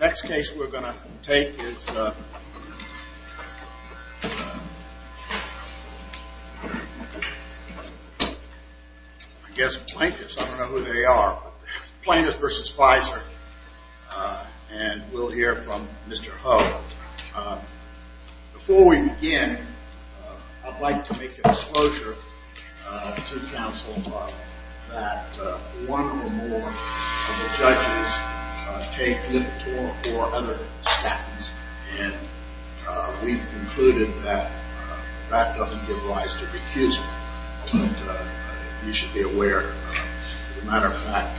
Next case we're going to take is, I guess, plaintiffs. I don't know who they are, but plaintiffs v. Pfizer, and we'll hear from Mr. Ho. Before we begin, I'd like to make a disclosure to counsel that one or more of the judges take Lipitor or other statins, and we've concluded that that doesn't give rise to recusal. You should be aware. As a matter of fact,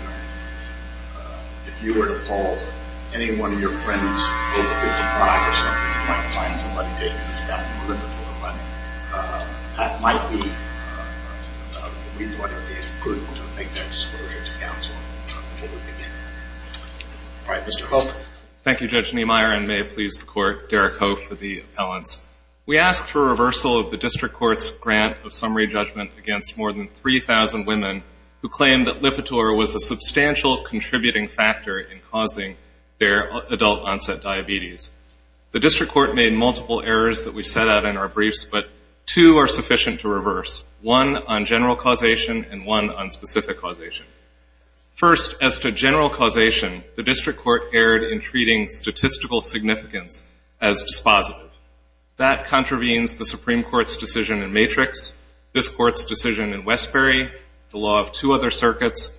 if you were to call any one of your friends, you might find somebody taking statin Lipitor, but that might be, we thought it would be good to make that disclosure to counsel before we begin. All right, Mr. Ho? Thank you, Judge Niemeyer, and may it please the Court, Derek Ho for the appellants. We asked for reversal of the District Court's grant of summary judgment against more than 3,000 women who claimed that Lipitor was a substantial contributing factor in causing their adult-onset diabetes. The District Court made multiple errors that we set out in our briefs, but two are sufficient to reverse, one on general causation and one on specific causation. First, as to general causation, the District Court erred in treating statistical significance as dispositive. That contravenes the Supreme Court's decision in Matrix, this Court's decision in Westbury, the law of two other circuits,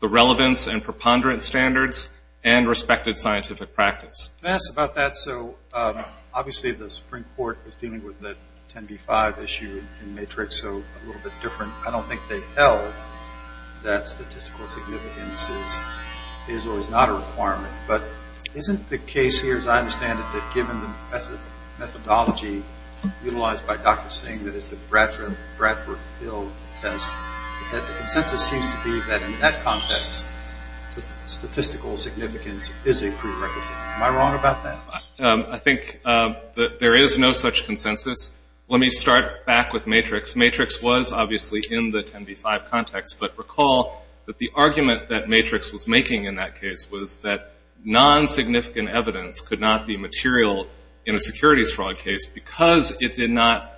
the relevance and preponderance standards, and respected scientific practice. I'm going to ask about that. So obviously the Supreme Court was dealing with the 10B-5 issue in Matrix, so a little bit different. I don't think they held that statistical significance is or is not a requirement, but isn't the case here, as I understand it, that given the methodology utilized by Dr. Singh, that is the Bradford-Hill test, that the consensus seems to be that in that context statistical significance is a prerequisite. Am I wrong about that? I think that there is no such consensus. Let me start back with Matrix. Matrix was obviously in the 10B-5 context, but recall that the argument that Matrix was making in that case was that non-significant evidence could not be material in a securities fraud case because it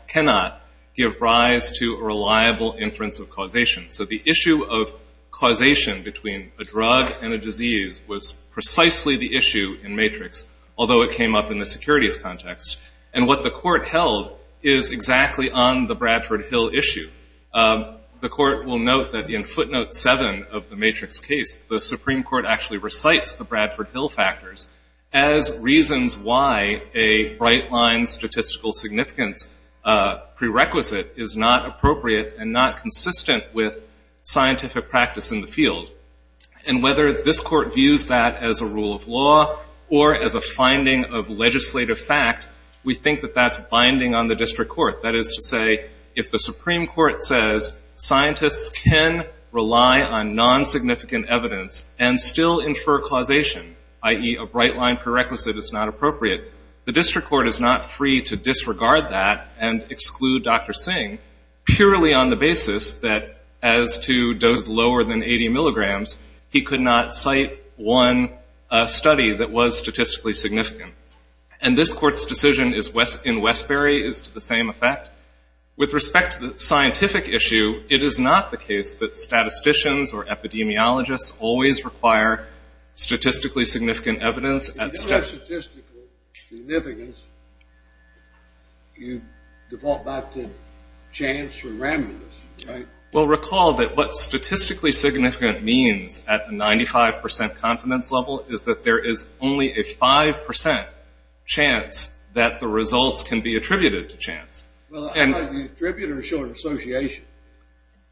cannot give rise to a reliable inference of causation. So the issue of causation between a drug and a disease was precisely the issue in Matrix, although it came up in the securities context. And what the Court held is exactly on the Bradford-Hill issue. The Court will note that in footnote 7 of the Matrix case, the Supreme Court actually recites the Bradford-Hill factors as reasons why a bright-line statistical significance prerequisite is not appropriate and not consistent with scientific practice in the field. And whether this Court views that as a rule of law or as a finding of legislative fact, we think that that's binding on the district court. That is to say, if the Supreme Court says scientists can rely on non-significant evidence and still infer causation, i.e., a bright-line prerequisite is not appropriate, the district court is not free to disregard that and exclude Dr. Singh purely on the basis that as to dose lower than 80 milligrams, he could not cite one study that was statistically significant. And this Court's decision in Westbury is to the same effect. With respect to the scientific issue, it is not the case that statisticians or epidemiologists always require statistically significant evidence. If you say statistical significance, you default back to chance or randomness, right? Well, recall that what statistically significant means at the 95 percent confidence level is that there is only a 5 percent chance that the results can be attributed to chance. Well, either attribute or show an association.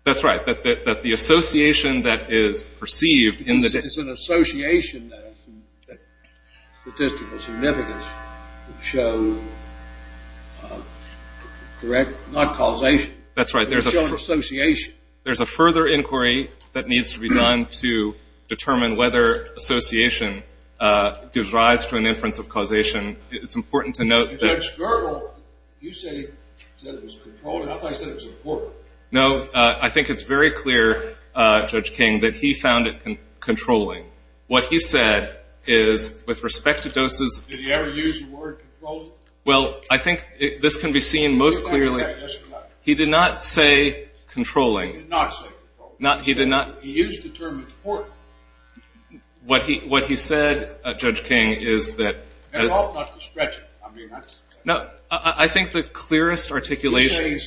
That's right. That the association that is perceived in the It's an association that statistical significance would show correct, not causation. That's right. There's a There's no association. There's a further inquiry that needs to be done to determine whether association gives rise to an inference of causation. It's important to note that You said he said it was controlling. I thought you said it was important. No, I think it's very clear, Judge King, that he found it controlling. What he said is, with respect to doses Did he ever use the word controlling? Well, I think this can be seen most clearly Yes, he did. He did not say controlling. He did not say controlling. He did not He used the term important. What he said, Judge King, is that No, I think the clearest articulation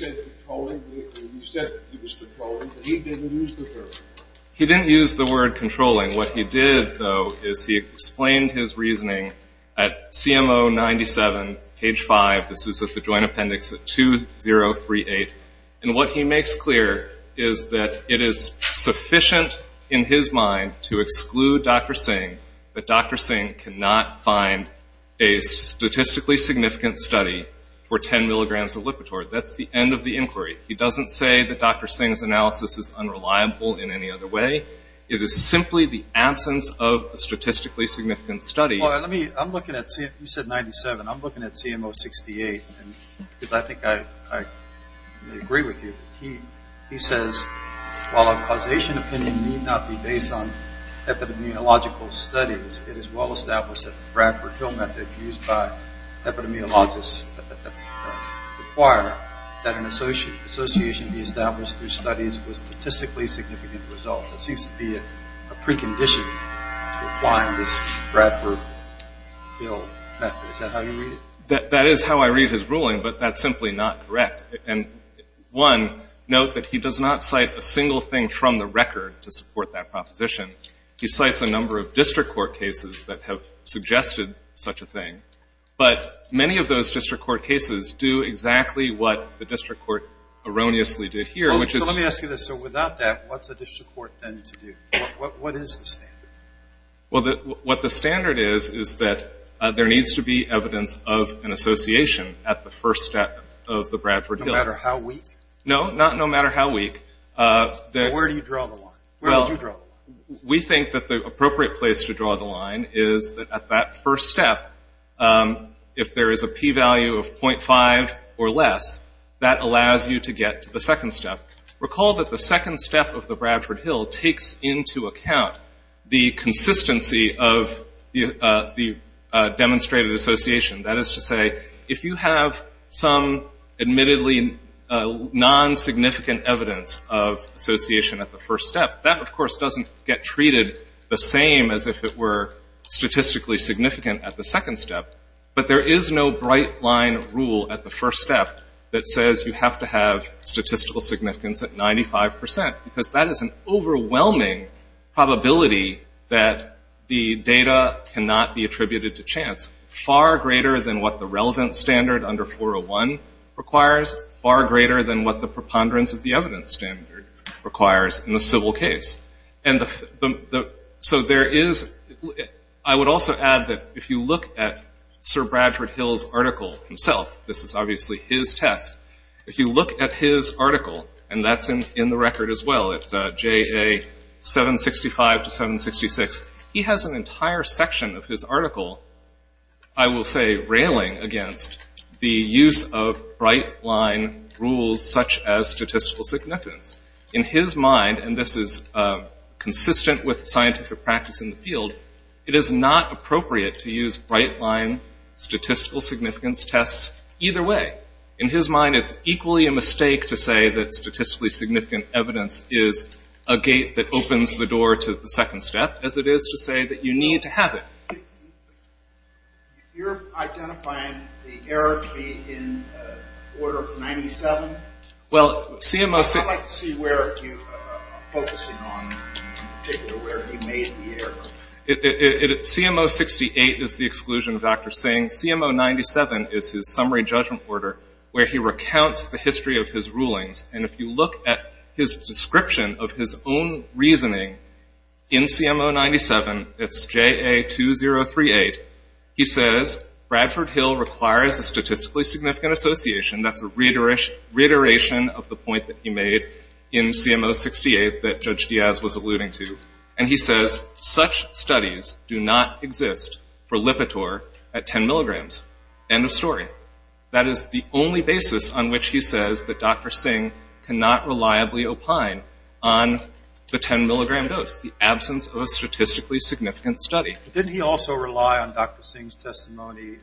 He didn't use the word controlling. What he did, though, is he explained his reasoning at CMO 97, page 5. This is at the Joint Appendix at 2038. And what he makes clear is that it is sufficient in his mind to exclude Dr. Singh that Dr. Singh cannot find a statistically significant study for 10 milligrams of Lipitor. That's the end of the inquiry. He doesn't say that Dr. Singh's analysis is unreliable in any other way. It is simply the absence of a statistically significant study. Well, let me, I'm looking at, you said 97. I'm looking at CMO 68, because I think I agree with you. He says, while a causation opinion may not be based on epidemiological studies, it is well established that the Bradford Hill method used by epidemiologists require that an association be established through studies with statistically significant results. It seems to be a precondition to applying this Bradford Hill method. Is that how you read it? That is how I read his ruling, but that's simply not correct. And, one, note that he does not cite a single thing from the record to support that proposition. He cites a number of district court cases that have suggested such a thing. But many of those district court cases do exactly what the district court erroneously did here, which is So let me ask you this. So without that, what's a district court then to do? What is the standard? Well, what the standard is is that there needs to be evidence of an association at the first step of the Bradford Hill. No matter how weak? No, not no matter how weak. Where do you draw the line? Well, we think that the appropriate place to draw the line is that at that first step, if there is a P value of 0.5 or less, that allows you to get to the second step. Recall that the second step of the Bradford Hill takes into account the consistency of the demonstrated association. That is to say, if you have some admittedly non-significant evidence of association at the first step, that, of course, doesn't get treated the same as if it were statistically significant at the second step. But there is no bright line rule at the first step that says you have to have statistical significance at 95 percent because that is an overwhelming probability that the data cannot be attributed to chance. It is far greater than what the relevant standard under 401 requires, far greater than what the preponderance of the evidence standard requires in the civil case. And so there is ‑‑ I would also add that if you look at Sir Bradford Hill's article himself, this is obviously his test, if you look at his article, and that's in the record as well at JA 765 to 766, he has an entire section of his article, I will say, railing against the use of bright line rules such as statistical significance. In his mind, and this is consistent with scientific practice in the field, it is not appropriate to use bright line statistical significance tests either way. In his mind, it's equally a mistake to say that statistically significant evidence is a gate that opens the door to the second step as it is to say that you need to have it. If you're identifying the error to be in order of 97, I'd like to see where you are focusing on, in particular where he made the error. CMO 68 is the exclusion of Dr. Singh. CMO 97 is his summary judgment order where he recounts the history of his rulings. And if you look at his description of his own reasoning in CMO 97, it's JA 2038, he says Bradford Hill requires a statistically significant association, that's a reiteration of the point that he made in CMO 68 that Judge Diaz was alluding to, and he says such studies do not exist for Lipitor at 10 milligrams. End of story. That is the only basis on which he says that Dr. Singh cannot reliably opine on the 10-milligram dose, the absence of a statistically significant study. Didn't he also rely on Dr. Singh's testimony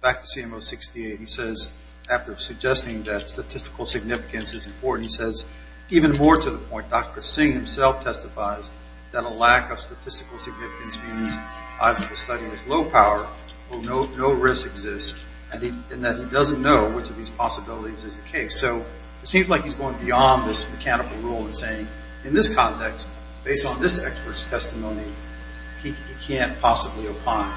back to CMO 68? He says after suggesting that statistical significance is important, he says even more to the point, Dr. Singh himself testifies that a lack of statistical significance means either the study is low power, or no risk exists, and that he doesn't know which of these possibilities is the case. So it seems like he's going beyond this mechanical rule in saying in this context, based on this expert's testimony, he can't possibly opine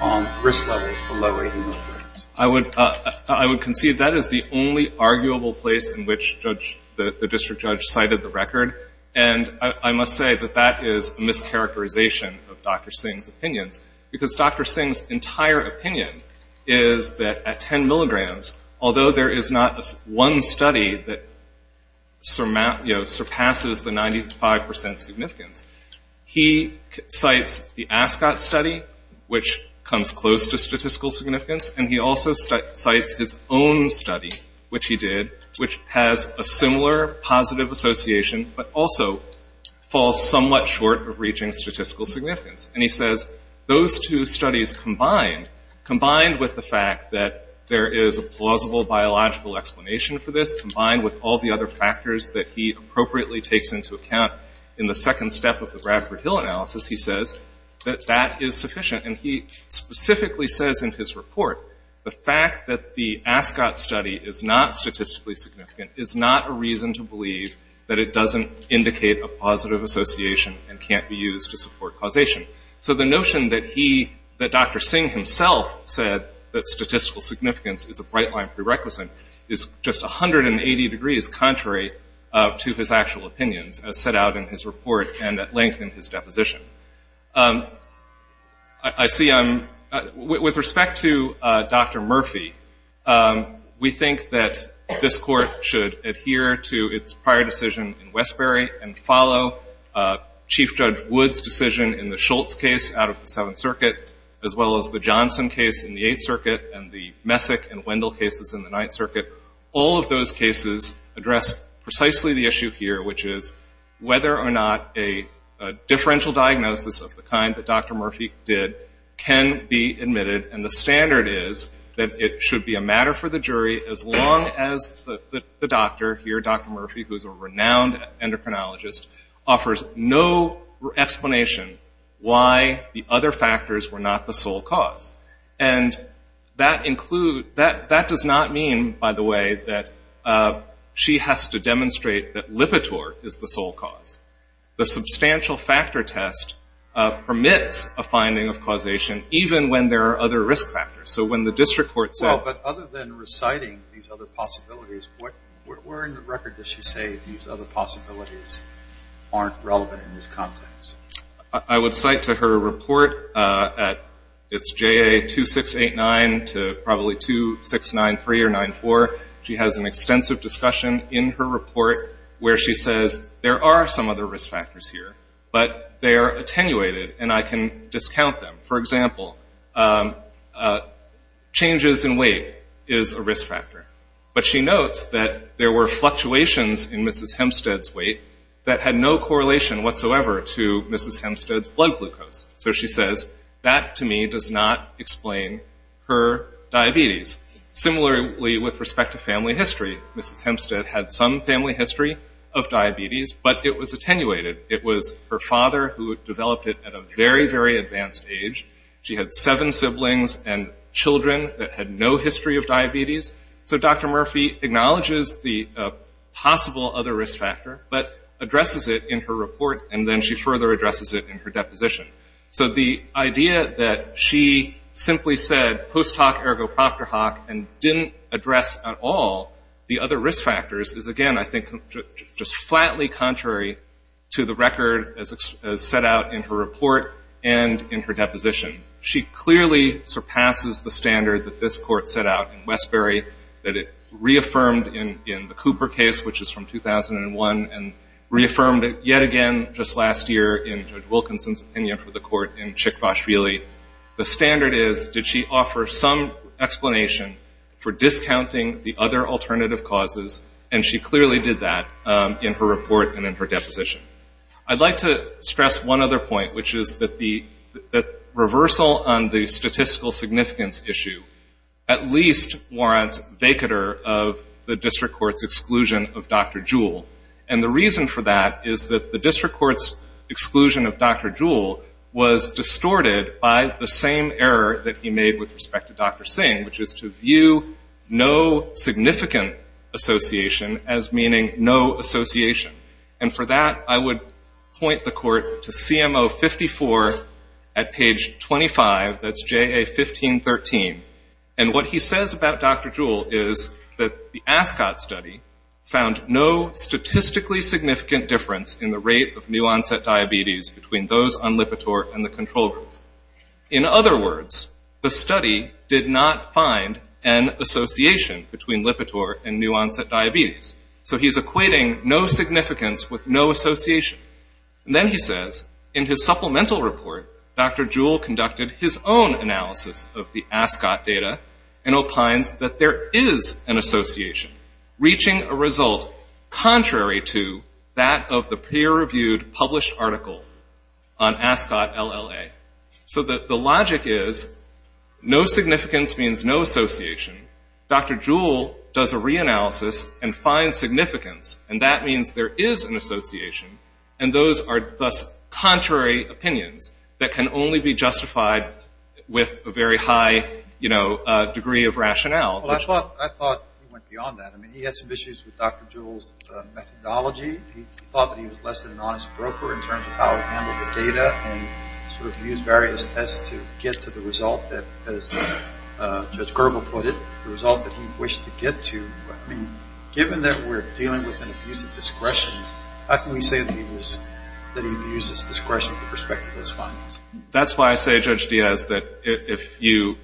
on risk levels below 80 milligrams. I would concede that is the only arguable place in which the district judge cited the record, and I must say that that is a mischaracterization of Dr. Singh's opinions, because Dr. Singh's entire opinion is that at 10 milligrams, although there is not one study that surpasses the 95 percent significance, he cites the ASCOT study, which comes close to statistical significance, and he also cites his own study, which he did, which has a similar positive association, but also falls somewhat short of reaching statistical significance. And he says those two studies combined, combined with the fact that there is a plausible biological explanation for this, combined with all the other factors that he appropriately takes into account in the second step of the Bradford Hill analysis, he says that that is sufficient, and he specifically says in his report, the fact that the ASCOT study is not statistically significant is not a reason to believe that it doesn't indicate a positive association and can't be used to support causation. So the notion that Dr. Singh himself said that statistical significance is a bright-line prerequisite is just 180 degrees contrary to his actual opinions, as set out in his report and at length in his deposition. I see I'm ‑‑ with respect to Dr. Murphy, we think that this court should adhere to its prior decision in Westbury and follow Chief Judge Wood's decision in the Schultz case out of the Seventh Circuit, as well as the Johnson case in the Eighth Circuit and the Messick and Wendell cases in the Ninth Circuit. All of those cases address precisely the issue here, which is whether or not a differential diagnosis of the kind that Dr. Murphy did can be admitted, and the standard is that it should be a matter for the jury as long as the doctor here, Dr. Murphy, who is a renowned endocrinologist, offers no explanation why the other factors were not the sole cause. And that includes ‑‑ that does not mean, by the way, that she has to demonstrate that Lipitor is the sole cause. The substantial factor test permits a finding of causation even when there are other risk factors. So when the district court said ‑‑ Well, but other than reciting these other possibilities, where in the record does she say these other possibilities aren't relevant in this context? I would cite to her report at ‑‑ it's JA2689 to probably 2693 or 94. She has an extensive discussion in her report where she says there are some other risk factors here, but they are attenuated and I can discount them. For example, changes in weight is a risk factor. But she notes that there were fluctuations in Mrs. Hempstead's weight that had no correlation whatsoever to Mrs. Hempstead's blood glucose. So she says that to me does not explain her diabetes. Similarly, with respect to family history, Mrs. Hempstead had some family history of diabetes, but it was attenuated. It was her father who developed it at a very, very advanced age. She had seven siblings and children that had no history of diabetes. So Dr. Murphy acknowledges the possible other risk factor, but addresses it in her report and then she further addresses it in her deposition. So the idea that she simply said post hoc ergo proctor hoc and didn't address at all the other risk factors is, again, I think, just flatly contrary to the record as set out in her report and in her deposition. She clearly surpasses the standard that this court set out in Westbury, that it reaffirmed in the Cooper case, which is from 2001, and reaffirmed it yet again just last year in Judge Wilkinson's opinion for the court in Chick Vashvili. The standard is did she offer some explanation for discounting the other alternative causes, and she clearly did that in her report and in her deposition. I'd like to stress one other point, which is that the reversal on the statistical significance issue at least warrants vacater of the district court's exclusion of Dr. Jewell. And the reason for that is that the district court's exclusion of Dr. Jewell was distorted by the same error that he made with respect to Dr. Singh, which is to view no significant association as meaning no association. And for that, I would point the court to CMO 54 at page 25. That's JA 1513. And what he says about Dr. Jewell is that the Ascot study found no statistically significant difference in the rate of new-onset diabetes between those on Lipitor and the control group. In other words, the study did not find an association between Lipitor and new-onset diabetes. So he's equating no significance with no association. And then he says, in his supplemental report, Dr. Jewell conducted his own analysis of the Ascot data and opines that there is an association, reaching a result contrary to that of the peer-reviewed published article on Ascot LLA. So the logic is no significance means no association. Dr. Jewell does a reanalysis and finds significance, and that means there is an association, and those are thus contrary opinions that can only be justified with a very high degree of rationale. Well, I thought he went beyond that. I mean, he had some issues with Dr. Jewell's methodology. He thought that he was less than an honest broker in terms of how he handled the data and sort of used various tests to get to the result that, as Judge Gerber put it, the result that he wished to get to. I mean, given that we're dealing with an abuse of discretion, how can we say that he abuses discretion with respect to his findings? That's why I say, Judge Diaz, that if you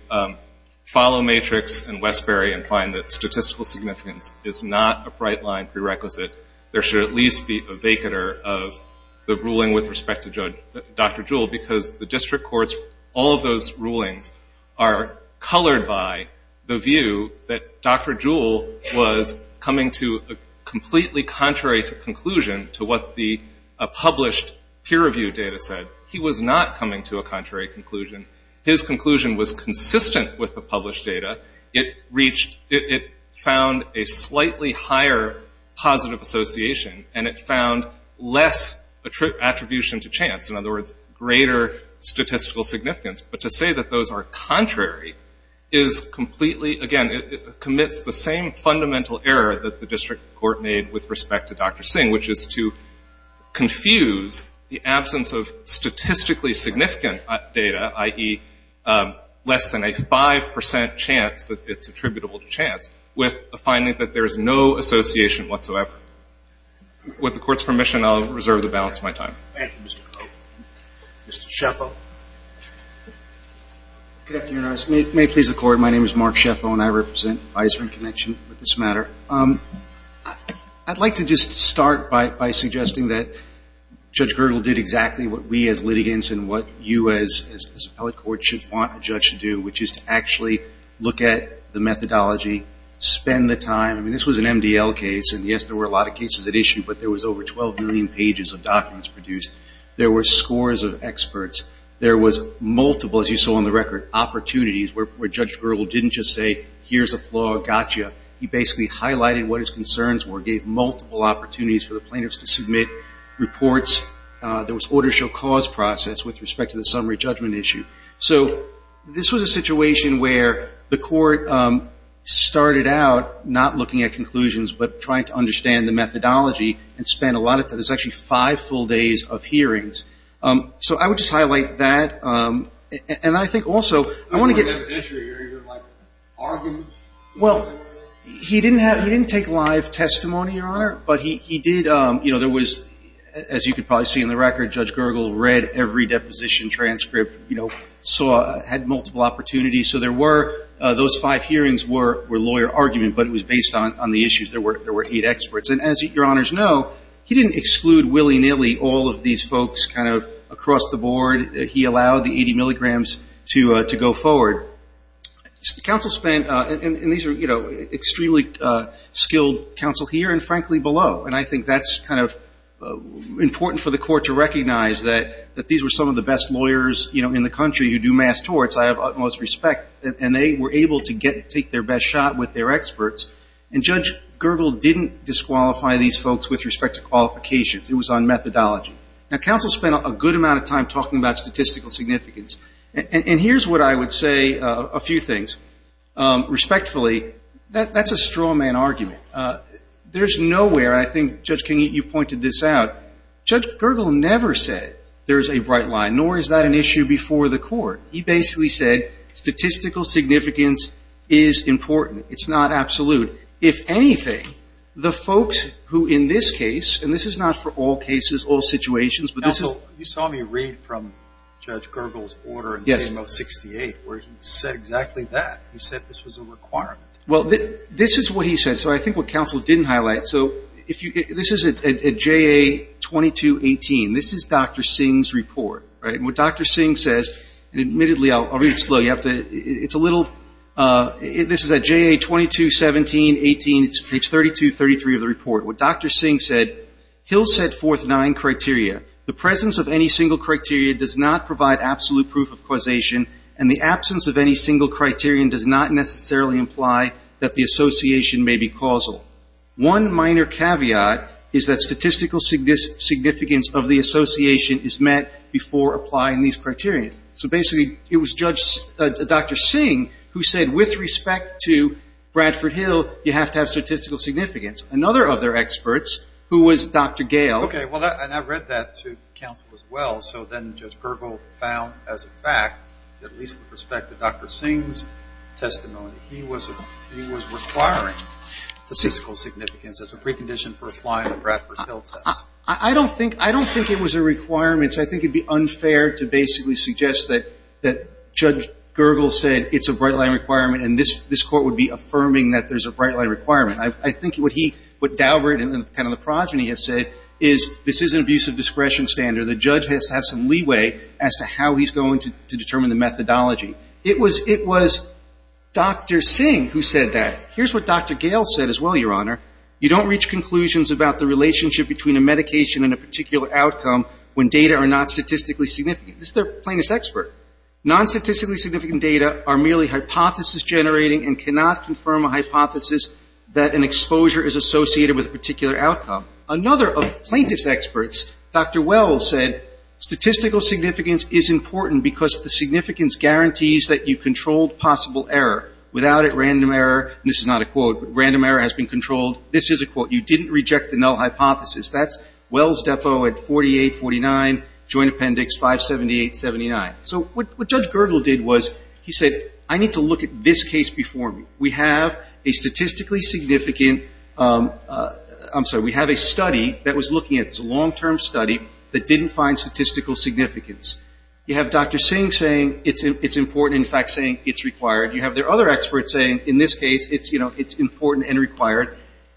follow Matrix and Westbury and find that statistical significance is not a bright-line prerequisite, there should at least be a vacater of the ruling with respect to Dr. Jewell because the district courts, all of those rulings, are colored by the view that Dr. Jewell was coming to a completely contrary conclusion to what the published peer-reviewed data said. He was not coming to a contrary conclusion. His conclusion was consistent with the published data. It found a slightly higher positive association, and it found less attribution to chance, in other words, greater statistical significance. But to say that those are contrary is completely, again, commits the same fundamental error that the district court made with respect to Dr. Singh, which is to confuse the absence of statistically significant data, i.e., less than a 5 percent chance that it's attributable to chance, with a finding that there is no association whatsoever. With the Court's permission, I'll reserve the balance of my time. Thank you, Mr. Cope. Mr. Sheffo. Good afternoon, Your Honor. May it please the Court, my name is Mark Sheffo, and I represent Advisory Connection with this matter. I'd like to just start by suggesting that Judge Gergel did exactly what we as litigants and what you as appellate court should want a judge to do, which is to actually look at the methodology, spend the time. I mean, this was an MDL case, and, yes, there were a lot of cases at issue, but there was over 12 million pages of documents produced. There were scores of experts. There was multiple, as you saw on the record, opportunities where Judge Gergel didn't just say, here's a flaw, gotcha. He basically highlighted what his concerns were, gave multiple opportunities for the plaintiffs to submit reports. There was order shall cause process with respect to the summary judgment issue. So this was a situation where the Court started out not looking at conclusions but trying to understand the methodology and spent a lot of time. There's actually five full days of hearings. So I would just highlight that. And I think also, I want to get... There was no evidentiary here. You were, like, arguing. Well, he didn't take live testimony, Your Honor, but he did... As you could probably see in the record, Judge Gergel read every deposition transcript, had multiple opportunities. So there were... Those five hearings were lawyer argument, but it was based on the issues. There were eight experts. And as Your Honors know, he didn't exclude willy-nilly all of these folks kind of across the board. He allowed the 80 milligrams to go forward. The counsel spent... And these are extremely skilled counsel here and, frankly, below. And I think that's kind of important for the Court to recognize, that these were some of the best lawyers in the country who do mass torts, I have utmost respect, and they were able to take their best shot with their experts. And Judge Gergel didn't disqualify these folks with respect to qualifications. It was on methodology. Now, counsel spent a good amount of time talking about statistical significance. And here's what I would say, a few things. Respectfully, that's a straw man argument. There's nowhere, and I think, Judge King, you pointed this out, Judge Gergel never said there's a bright line, nor is that an issue before the Court. He basically said statistical significance is important. It's not absolute. If anything, the folks who in this case, and this is not for all cases, all situations, but this is... Counsel, you saw me read from Judge Gergel's order. Yes. In CMO 68, where he said exactly that. He said this was a requirement. Well, this is what he said. So I think what counsel didn't highlight. So this is at JA 2218. This is Dr. Singh's report, right? And what Dr. Singh says, and admittedly, I'll read it slow. It's a little... This is at JA 2217, 18, page 32, 33 of the report. What Dr. Singh said, he'll set forth nine criteria. The presence of any single criteria does not provide absolute proof of causation, and the absence of any single criterion does not necessarily imply that the association may be causal. One minor caveat is that statistical significance of the association is met before applying these criteria. So basically, it was Dr. Singh who said with respect to Bradford Hill, you have to have statistical significance. Another of their experts, who was Dr. Gale... Okay, well, and I read that to counsel as well. So then Judge Gergel found as a fact, at least with respect to Dr. Singh's testimony, he was requiring statistical significance as a precondition for applying the Bradford Hill test. I don't think it was a requirement. I think it would be unfair to basically suggest that Judge Gergel said it's a bright line requirement, and this Court would be affirming that there's a bright line requirement. I think what he, what Daubert and kind of the progeny have said is this is an abusive discretion standard. The judge has to have some leeway as to how he's going to determine the methodology. It was Dr. Singh who said that. Here's what Dr. Gale said as well, Your Honor. You don't reach conclusions about the relationship between a medication and a particular outcome when data are not statistically significant. This is their plaintiff's expert. Non-statistically significant data are merely hypothesis generating and cannot confirm a hypothesis that an exposure is associated with a particular outcome. Another of the plaintiff's experts, Dr. Wells, said statistical significance is important because the significance guarantees that you controlled possible error. Without it, random error, and this is not a quote, but random error has been controlled. This is a quote. You didn't reject the null hypothesis. That's Wells Depot at 4849 Joint Appendix 57879. So what Judge Gergel did was he said I need to look at this case before me. We have a statistically significant, I'm sorry, we have a study that was looking at this long-term study that didn't find statistical significance. You have Dr. Singh saying it's important, in fact saying it's required. You have their other experts saying in this case it's important and required.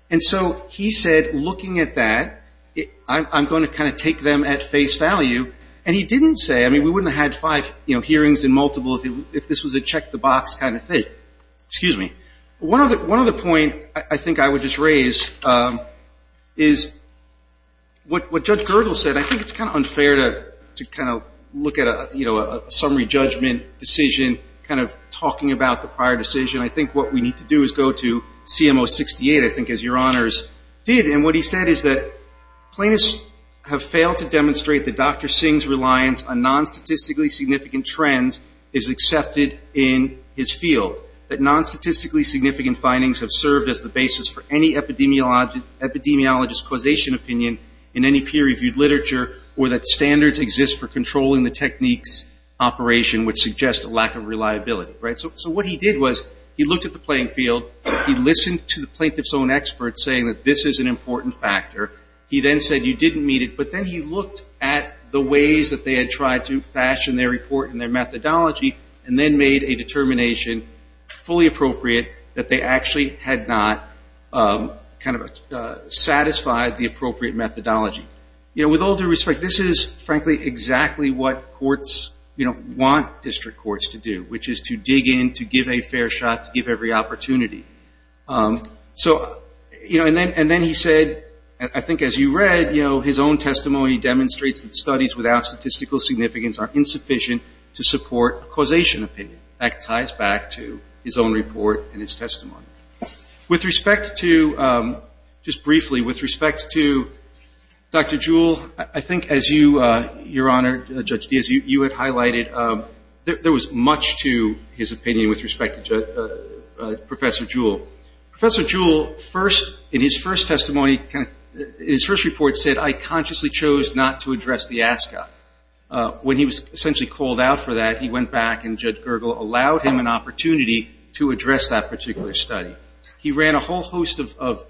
And so he said looking at that, I'm going to kind of take them at face value, and he didn't say, I mean we wouldn't have had five hearings and multiple if this was a check the box kind of thing. Excuse me. One other point I think I would just raise is what Judge Gergel said. I think it's kind of unfair to kind of look at a summary judgment decision kind of talking about the prior decision. I think what we need to do is go to CMO 68, I think as your honors did, and what he said is that plaintiffs have failed to demonstrate that Dr. Singh's reliance on non-statistically significant trends is accepted in his field, that non-statistically significant findings have served as the basis for any epidemiologist causation opinion in any peer-reviewed literature, or that standards exist for controlling the technique's operation, which suggests a lack of reliability. So what he did was he looked at the playing field. He listened to the plaintiff's own experts saying that this is an important factor. He then said you didn't meet it, but then he looked at the ways that they had tried to fashion their report and their methodology and then made a determination, fully appropriate, that they actually had not kind of satisfied the appropriate methodology. With all due respect, this is frankly exactly what courts want district courts to do, which is to dig in, to give a fair shot, to give every opportunity. And then he said, I think as you read, his own testimony demonstrates that studies without statistical significance are insufficient to support causation opinion. That ties back to his own report and his testimony. With respect to, just briefly, with respect to Dr. Jewell, I think as you, Your Honor, Judge Diaz, you had highlighted there was much to his opinion with respect to Professor Jewell. Professor Jewell first, in his first testimony, his first report said, I consciously chose not to address the ASCA. When he was essentially called out for that, he went back and Judge Gergel allowed him an opportunity to address that particular study. He ran a whole host of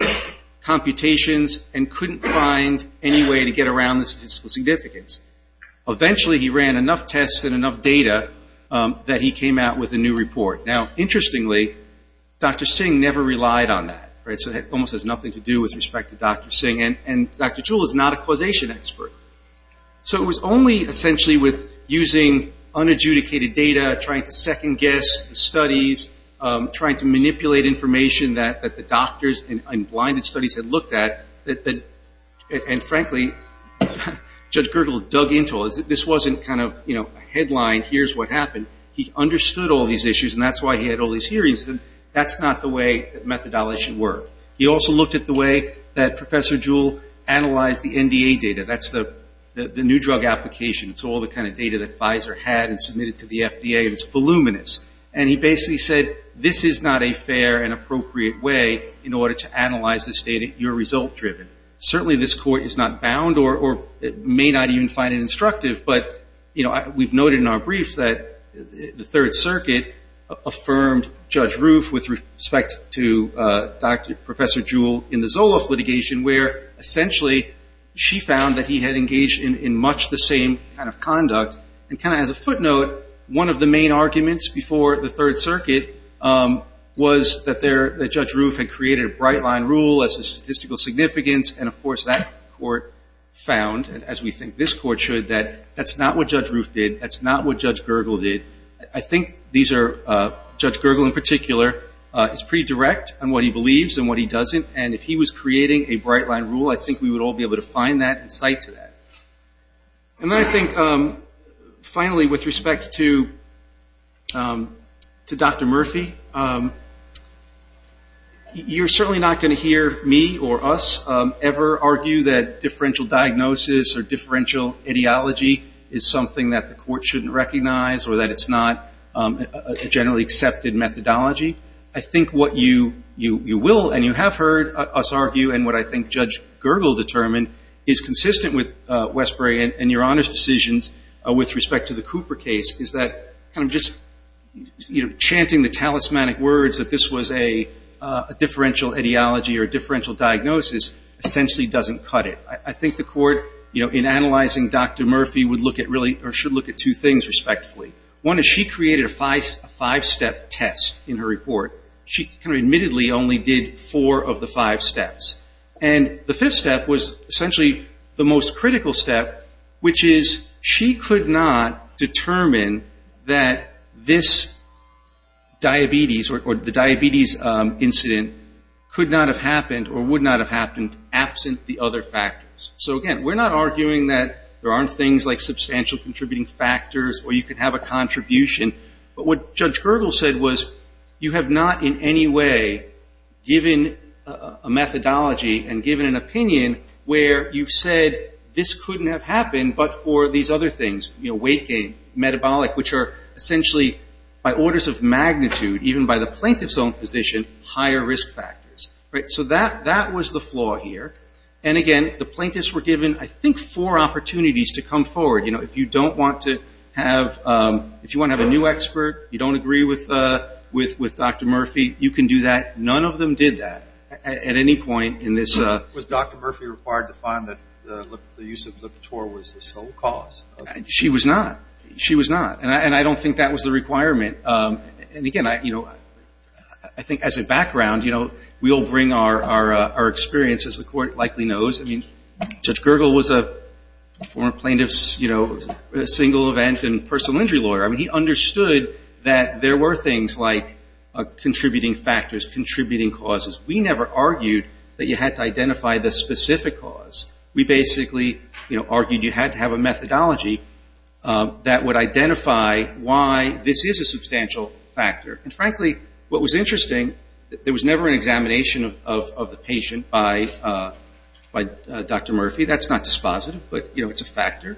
computations and couldn't find any way to get around the statistical significance. Eventually he ran enough tests and enough data that he came out with a new report. Now, interestingly, Dr. Singh never relied on that. It almost has nothing to do with respect to Dr. Singh, and Dr. Jewell is not a causation expert. So it was only essentially with using unadjudicated data, trying to second-guess the studies, trying to manipulate information that the doctors and blinded studies had looked at, and frankly, Judge Gergel dug into all this. This wasn't kind of a headline, here's what happened. He understood all these issues, and that's why he had all these hearings. That's not the way that methodology should work. He also looked at the way that Professor Jewell analyzed the NDA data. That's the new drug application. It's all the kind of data that Pfizer had and submitted to the FDA, and it's voluminous. And he basically said, this is not a fair and appropriate way in order to analyze this data. You're result-driven. Certainly this court is not bound or may not even find it instructive, but we've noted in our brief that the Third Circuit affirmed Judge Roof with respect to Professor Jewell in the Zoloff litigation where essentially she found that he had engaged in much the same kind of conduct. And kind of as a footnote, one of the main arguments before the Third Circuit was that Judge Roof had created a bright-line rule as to statistical significance, and, of course, that court found, as we think this court should, that that's not what Judge Roof did. That's not what Judge Gergel did. I think Judge Gergel in particular is pretty direct on what he believes and what he doesn't, and if he was creating a bright-line rule, I think we would all be able to find that and cite to that. And then I think, finally, with respect to Dr. Murphy, you're certainly not going to hear me or us ever argue that differential diagnosis or differential ideology is something that the court shouldn't recognize or that it's not a generally accepted methodology. I think what you will and you have heard us argue and what I think Judge Gergel determined is consistent with Westbury and your Honor's decisions with respect to the Cooper case is that kind of just chanting the talismanic words that this was a differential ideology or differential diagnosis essentially doesn't cut it. I think the court, in analyzing Dr. Murphy, should look at two things respectfully. One is she created a five-step test in her report. She kind of admittedly only did four of the five steps, and the fifth step was essentially the most critical step, which is she could not determine that this diabetes or the diabetes incident could not have happened or would not have happened absent the other factors. So, again, we're not arguing that there aren't things like substantial contributing factors or you could have a contribution, but what Judge Gergel said was you have not in any way given a methodology and given an opinion where you've said this couldn't have happened but for these other things, weight gain, metabolic, which are essentially by orders of magnitude, even by the plaintiff's own position, higher risk factors. So that was the flaw here. And, again, the plaintiffs were given I think four opportunities to come forward. If you want to have a new expert, you don't agree with Dr. Murphy, you can do that. None of them did that at any point in this. Was Dr. Murphy required to find that the use of Lipitor was the sole cause? She was not. She was not. And I don't think that was the requirement. And, again, I think as a background, we all bring our experience, as the Court likely knows. I mean, Judge Gergel was a former plaintiff's single event and personal injury lawyer. I mean, he understood that there were things like contributing factors, contributing causes. We never argued that you had to identify the specific cause. We basically argued you had to have a methodology that would identify why this is a substantial factor. And, frankly, what was interesting, there was never an examination of the patient by Dr. Murphy. That's not dispositive, but, you know, it's a factor.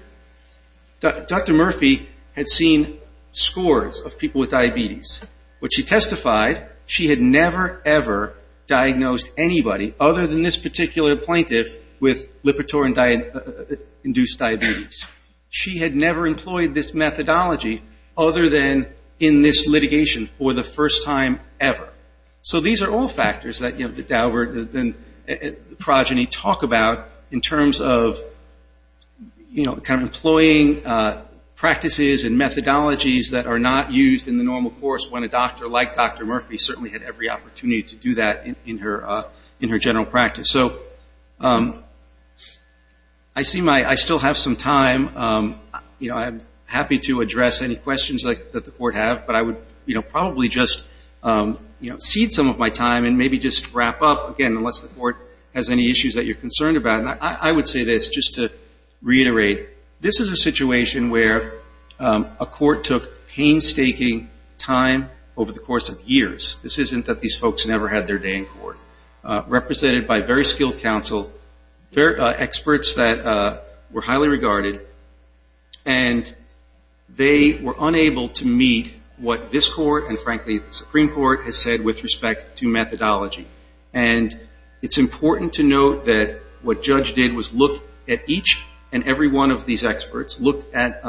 Dr. Murphy had seen scores of people with diabetes. What she testified, she had never, ever diagnosed anybody other than this particular plaintiff with Lipitor-induced diabetes. She had never employed this methodology other than in this litigation for the first time ever. So these are all factors that, you know, Daubert and Progeny talk about in terms of, you know, kind of employing practices and methodologies that are not used in the normal course, when a doctor like Dr. Murphy certainly had every opportunity to do that in her general practice. So I still have some time. You know, I'm happy to address any questions that the Court has, but I would, you know, probably just, you know, cede some of my time and maybe just wrap up, again, unless the Court has any issues that you're concerned about. And I would say this, just to reiterate, this is a situation where a court took painstaking time over the course of years. This isn't that these folks never had their day in court. represented by very skilled counsel, experts that were highly regarded, and they were unable to meet what this Court and, frankly, the Supreme Court has said with respect to methodology. And it's important to note that what Judge did was look at each and every one of these experts, looked at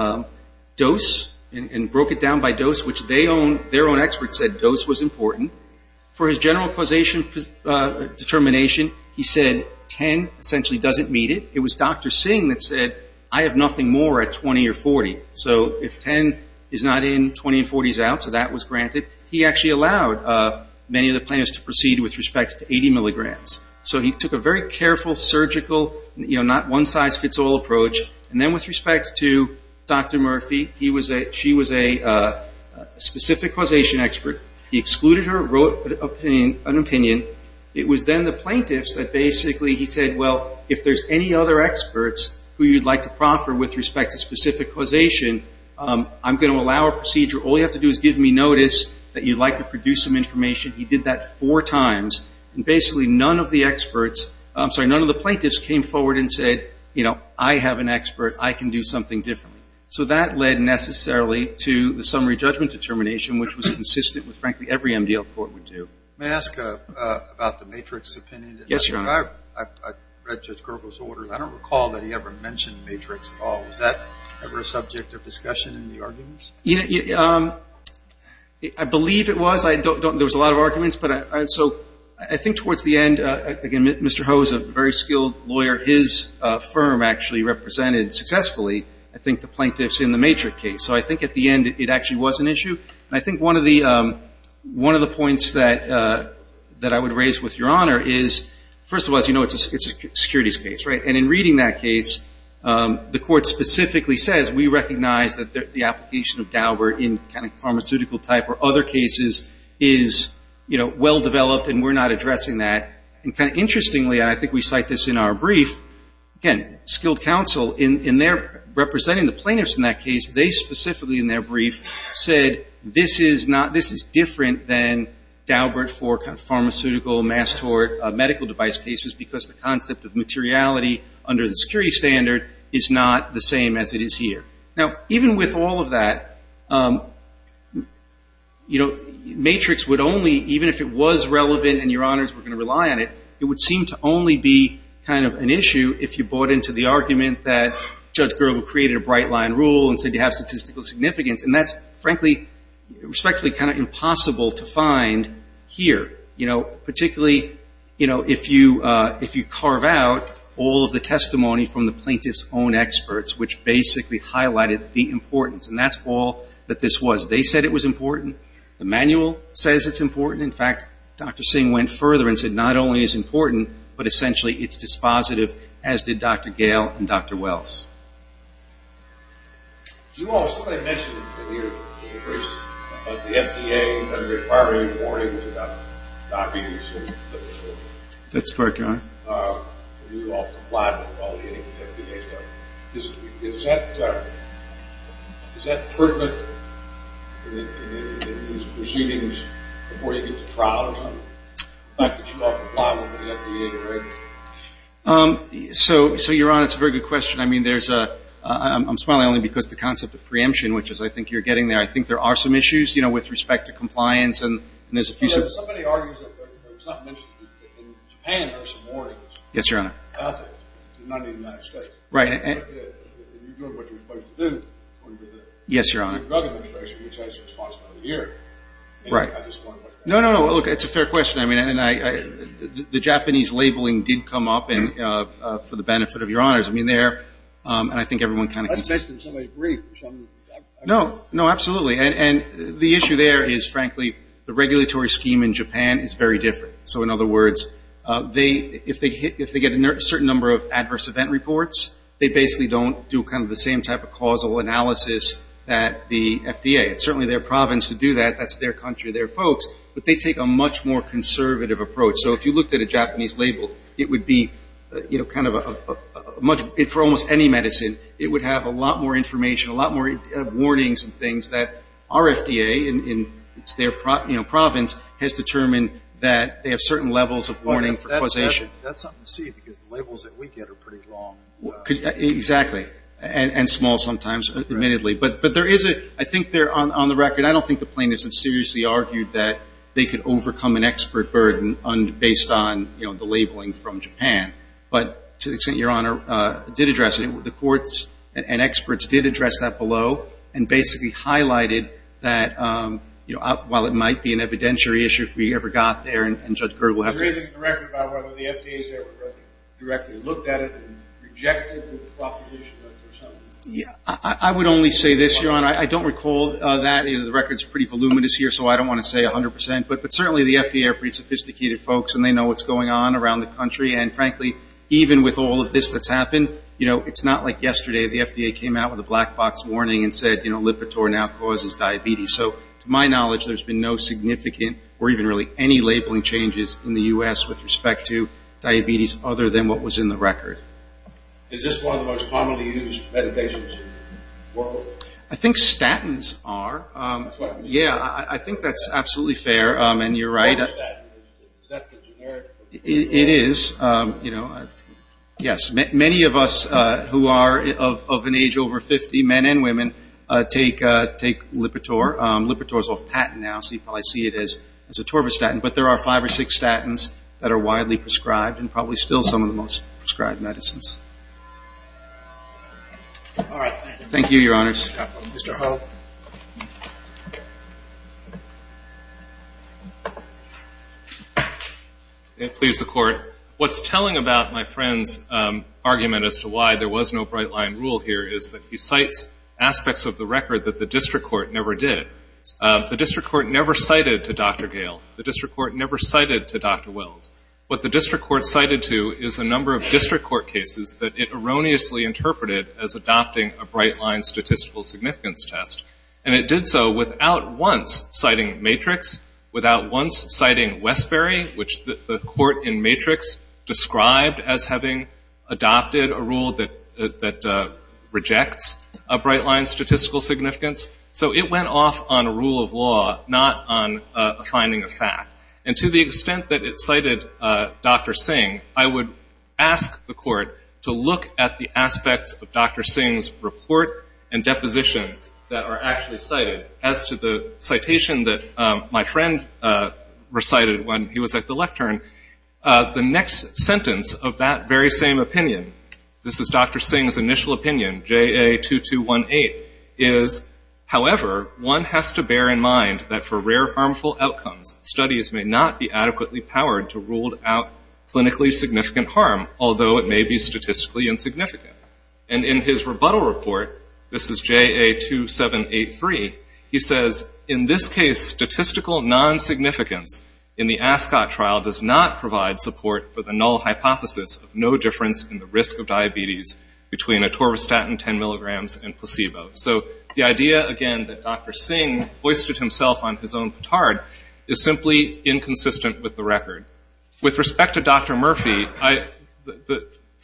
dose and broke it down by dose, which they own, their own experts said dose was important. For his general causation determination, he said 10 essentially doesn't meet it. It was Dr. Singh that said, I have nothing more at 20 or 40. So if 10 is not in, 20 and 40 is out, so that was granted. He actually allowed many of the plaintiffs to proceed with respect to 80 milligrams. So he took a very careful, surgical, you know, not one-size-fits-all approach. And then with respect to Dr. Murphy, she was a specific causation expert. He excluded her, wrote an opinion. It was then the plaintiffs that basically he said, well, if there's any other experts who you'd like to proffer with respect to specific causation, I'm going to allow a procedure. All you have to do is give me notice that you'd like to produce some information. He did that four times. And basically none of the experts, I'm sorry, none of the plaintiffs came forward and said, you know, I have an expert. I can do something differently. So that led necessarily to the summary judgment determination, which was consistent with frankly every MDL court would do. May I ask about the Matrix opinion? Yes, Your Honor. I read Judge Gergo's orders. I don't recall that he ever mentioned Matrix at all. Was that ever a subject of discussion in the arguments? I believe it was. There was a lot of arguments. So I think towards the end, again, Mr. Ho is a very skilled lawyer. His firm actually represented successfully, I think, the plaintiffs in the Matrix case. So I think at the end it actually was an issue. And I think one of the points that I would raise with Your Honor is, first of all, as you know, it's a securities case, right? And in reading that case, the court specifically says we recognize that the application of Daubert in kind of pharmaceutical type or other cases is, you know, well developed and we're not addressing that. And kind of interestingly, and I think we cite this in our brief, again, the skilled counsel in their representing the plaintiffs in that case, they specifically in their brief said this is different than Daubert for pharmaceutical, mass tort, medical device cases, because the concept of materiality under the security standard is not the same as it is here. Now, even with all of that, you know, Matrix would only, even if it was relevant and Your Honors were going to rely on it, it would seem to only be kind of an issue if you bought into the argument that Judge Gerber created a bright line rule and said you have statistical significance. And that's frankly, respectfully kind of impossible to find here. You know, particularly, you know, if you carve out all of the testimony from the plaintiff's own experts, which basically highlighted the importance. And that's all that this was. They said it was important. The manual says it's important. In fact, Dr. Singh went further and said not only is it important, but essentially it's dispositive, as did Dr. Gale and Dr. Wells. So Your Honor, it's a very good question. I mean, there's a, I'm smiling only because the concept of preemption, which is I think you're getting there. I think there are some issues, you know, with respect to compliance. And there's a few. Yes, Your Honor. No, no, no. Look, it's a fair question. I mean, the Japanese labeling did come up for the benefit of Your Honors. I mean, they're, and I think everyone kind of can see. I expect that somebody would agree. No, no, absolutely. And the issue there is, frankly, the regulatory scheme in Japan is very different. So, in other words, if they get a certain number of adverse event reports, they basically don't do kind of the same type of causal analysis that the FDA. It's certainly their province to do that. That's their country, their folks. But they take a much more conservative approach. So, if you looked at a Japanese label, it would be, you know, kind of a much, for almost any medicine, it would have a lot more information, a lot more warnings and things that our FDA, and it's their province, has determined that they have certain levels of warning for causation. That's something to see because the labels that we get are pretty long. Exactly. And small sometimes, admittedly. But there is a, I think they're, on the record, I don't think the plaintiffs have seriously argued that they could overcome an expert burden based on, you know, the labeling from Japan. But to the extent Your Honor did address it, the courts and experts did address that below and basically highlighted that, you know, while it might be an evidentiary issue if we ever got there and Judge Kerr will have to. There isn't a record about whether the FDA has ever directly looked at it and rejected the proposition or something. I would only say this, Your Honor. I don't recall that. The record is pretty voluminous here, so I don't want to say 100%. But certainly the FDA are pretty sophisticated folks and they know what's going on around the country. And, frankly, even with all of this that's happened, you know, it's not like yesterday. The FDA came out with a black box warning and said, you know, Lipitor now causes diabetes. So, to my knowledge, there's been no significant or even really any labeling changes in the U.S. with respect to diabetes other than what was in the record. Is this one of the most commonly used medications in the world? I think statins are. Yeah, I think that's absolutely fair, and you're right. Is that the generic? It is, you know. Yes. Many of us who are of an age over 50, men and women, take Lipitor. Lipitor is off patent now, so you probably see it as a torvastatin. But there are five or six statins that are widely prescribed and probably still some of the most prescribed medicines. All right. Thank you, Your Honors. Mr. Hull. Please, the Court. What's telling about my friend's argument as to why there was no bright-line rule here is that he cites aspects of the record that the district court never did. The district court never cited to Dr. Gale. The district court never cited to Dr. Wells. What the district court cited to is a number of district court cases that it erroneously interpreted as adopting a bright-line statistical significance test, and it did so without once citing Matrix, without once citing Westbury, which the court in Matrix described as having adopted a rule that rejects a bright-line statistical significance. So it went off on a rule of law, not on a finding of fact. And to the extent that it cited Dr. Singh, I would ask the court to look at the aspects of Dr. Singh's report and deposition that are actually cited. As to the citation that my friend recited when he was at the lectern, the next sentence of that very same opinion, this is Dr. Singh's initial opinion, JA-2218, is, however, one has to bear in mind that for rare harmful outcomes, studies may not be adequately powered to rule out clinically significant harm, although it may be statistically insignificant. And in his rebuttal report, this is JA-2783, he says, in this case statistical non-significance in the ASCOT trial does not provide support for the null hypothesis of no difference in the risk of diabetes between atorvastatin 10 milligrams and placebo. So the idea, again, that Dr. Singh boasted himself on his own petard is simply inconsistent with the record. With respect to Dr. Murphy,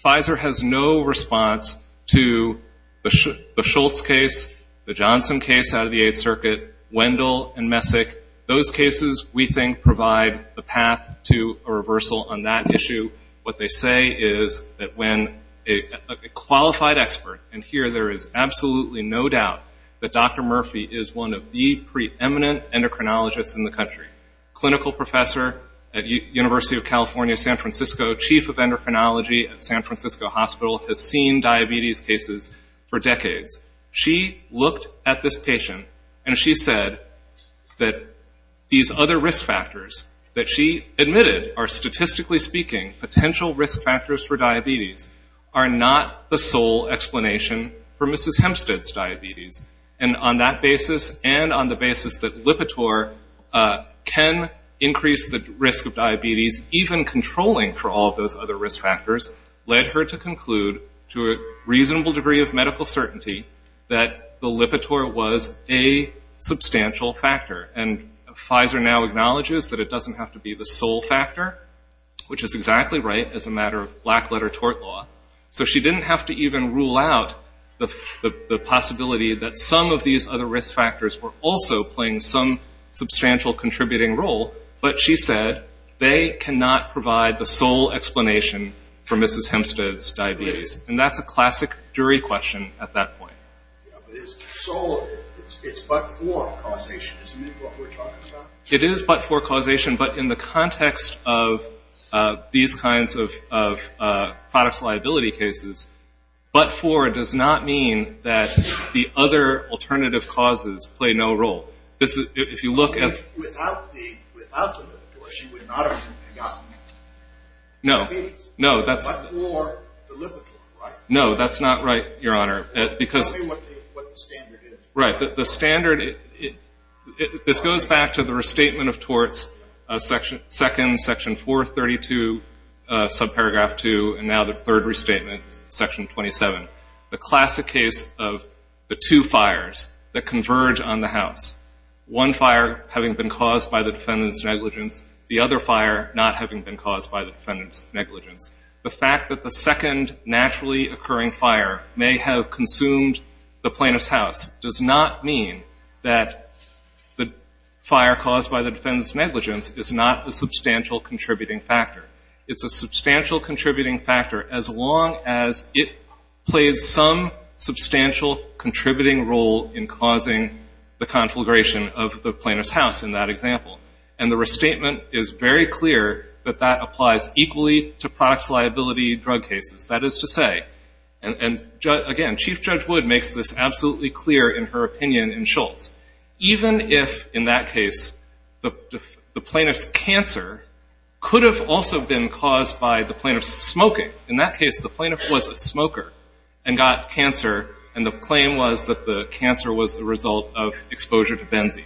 Pfizer has no response to the Schultz case, the Johnson case out of the Eighth Circuit, Wendell, and Messick. Those cases, we think, provide the path to a reversal on that issue. What they say is that when a qualified expert, and here there is absolutely no doubt that Dr. Murphy is one of the preeminent endocrinologists in the country, clinical professor at University of California San Francisco, chief of endocrinology at San Francisco Hospital, has seen diabetes cases for decades. She looked at this patient and she said that these other risk factors that she admitted are statistically speaking potential risk factors for diabetes are not the sole explanation for Mrs. Hempstead's diabetes. And on that basis and on the basis that Lipitor can increase the risk of diabetes, even controlling for all of those other risk factors, led her to conclude to a reasonable degree of medical certainty that the Lipitor was a substantial factor. And Pfizer now acknowledges that it doesn't have to be the sole factor, which is exactly right as a matter of black-letter tort law. So she didn't have to even rule out the possibility that some of these other risk factors were also playing some substantial contributing role, but she said they cannot provide the sole explanation for Mrs. Hempstead's diabetes. And that's a classic jury question at that point. So it's but-for causation, isn't it, what we're talking about? It is but-for causation. But in the context of these kinds of products liability cases, but-for does not mean that the other alternative causes play no role. If you look at the- Without the Lipitor, she would not have gotten diabetes. No, that's- But-for the Lipitor, right? No, that's not right, Your Honor. Tell me what the standard is. Right. The standard, this goes back to the restatement of torts, second section 432, subparagraph 2, and now the third restatement, section 27. The classic case of the two fires that converge on the house, one fire having been caused by the defendant's negligence, the other fire not having been caused by the defendant's negligence. The fact that the second naturally occurring fire may have consumed the plaintiff's house does not mean that the fire caused by the defendant's negligence is not a substantial contributing factor. It's a substantial contributing factor as long as it plays some substantial contributing role in causing the conflagration of the plaintiff's house in that example. And the restatement is very clear that that applies equally to products liability drug cases. That is to say, and again, Chief Judge Wood makes this absolutely clear in her opinion in Schultz, even if in that case the plaintiff's cancer could have also been caused by the plaintiff's smoking. In that case, the plaintiff was a smoker and got cancer, and the claim was that the cancer was the result of exposure to benzene.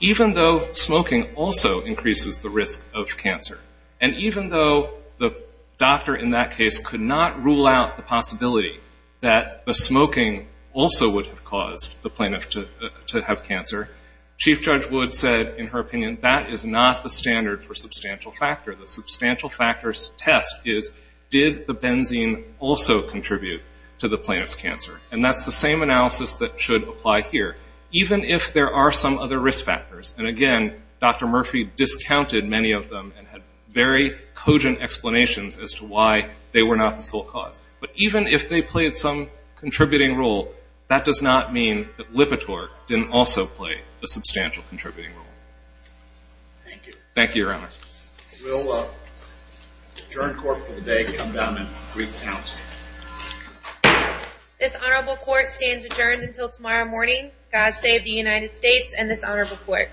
Even though smoking also increases the risk of cancer, and even though the doctor in that case could not rule out the possibility that the smoking also would have caused the plaintiff to have cancer, Chief Judge Wood said in her opinion that is not the standard for substantial factor. The substantial factor test is did the benzene also contribute to the plaintiff's cancer, and that's the same analysis that should apply here. Even if there are some other risk factors, and again, Dr. Murphy discounted many of them and had very cogent explanations as to why they were not the sole cause. But even if they played some contributing role, that does not mean that Lipitor didn't also play a substantial contributing role. Thank you. Thank you, Your Honor. We'll adjourn court for the day, come down and recount. This honorable court stands adjourned until tomorrow morning. God save the United States and this honorable court.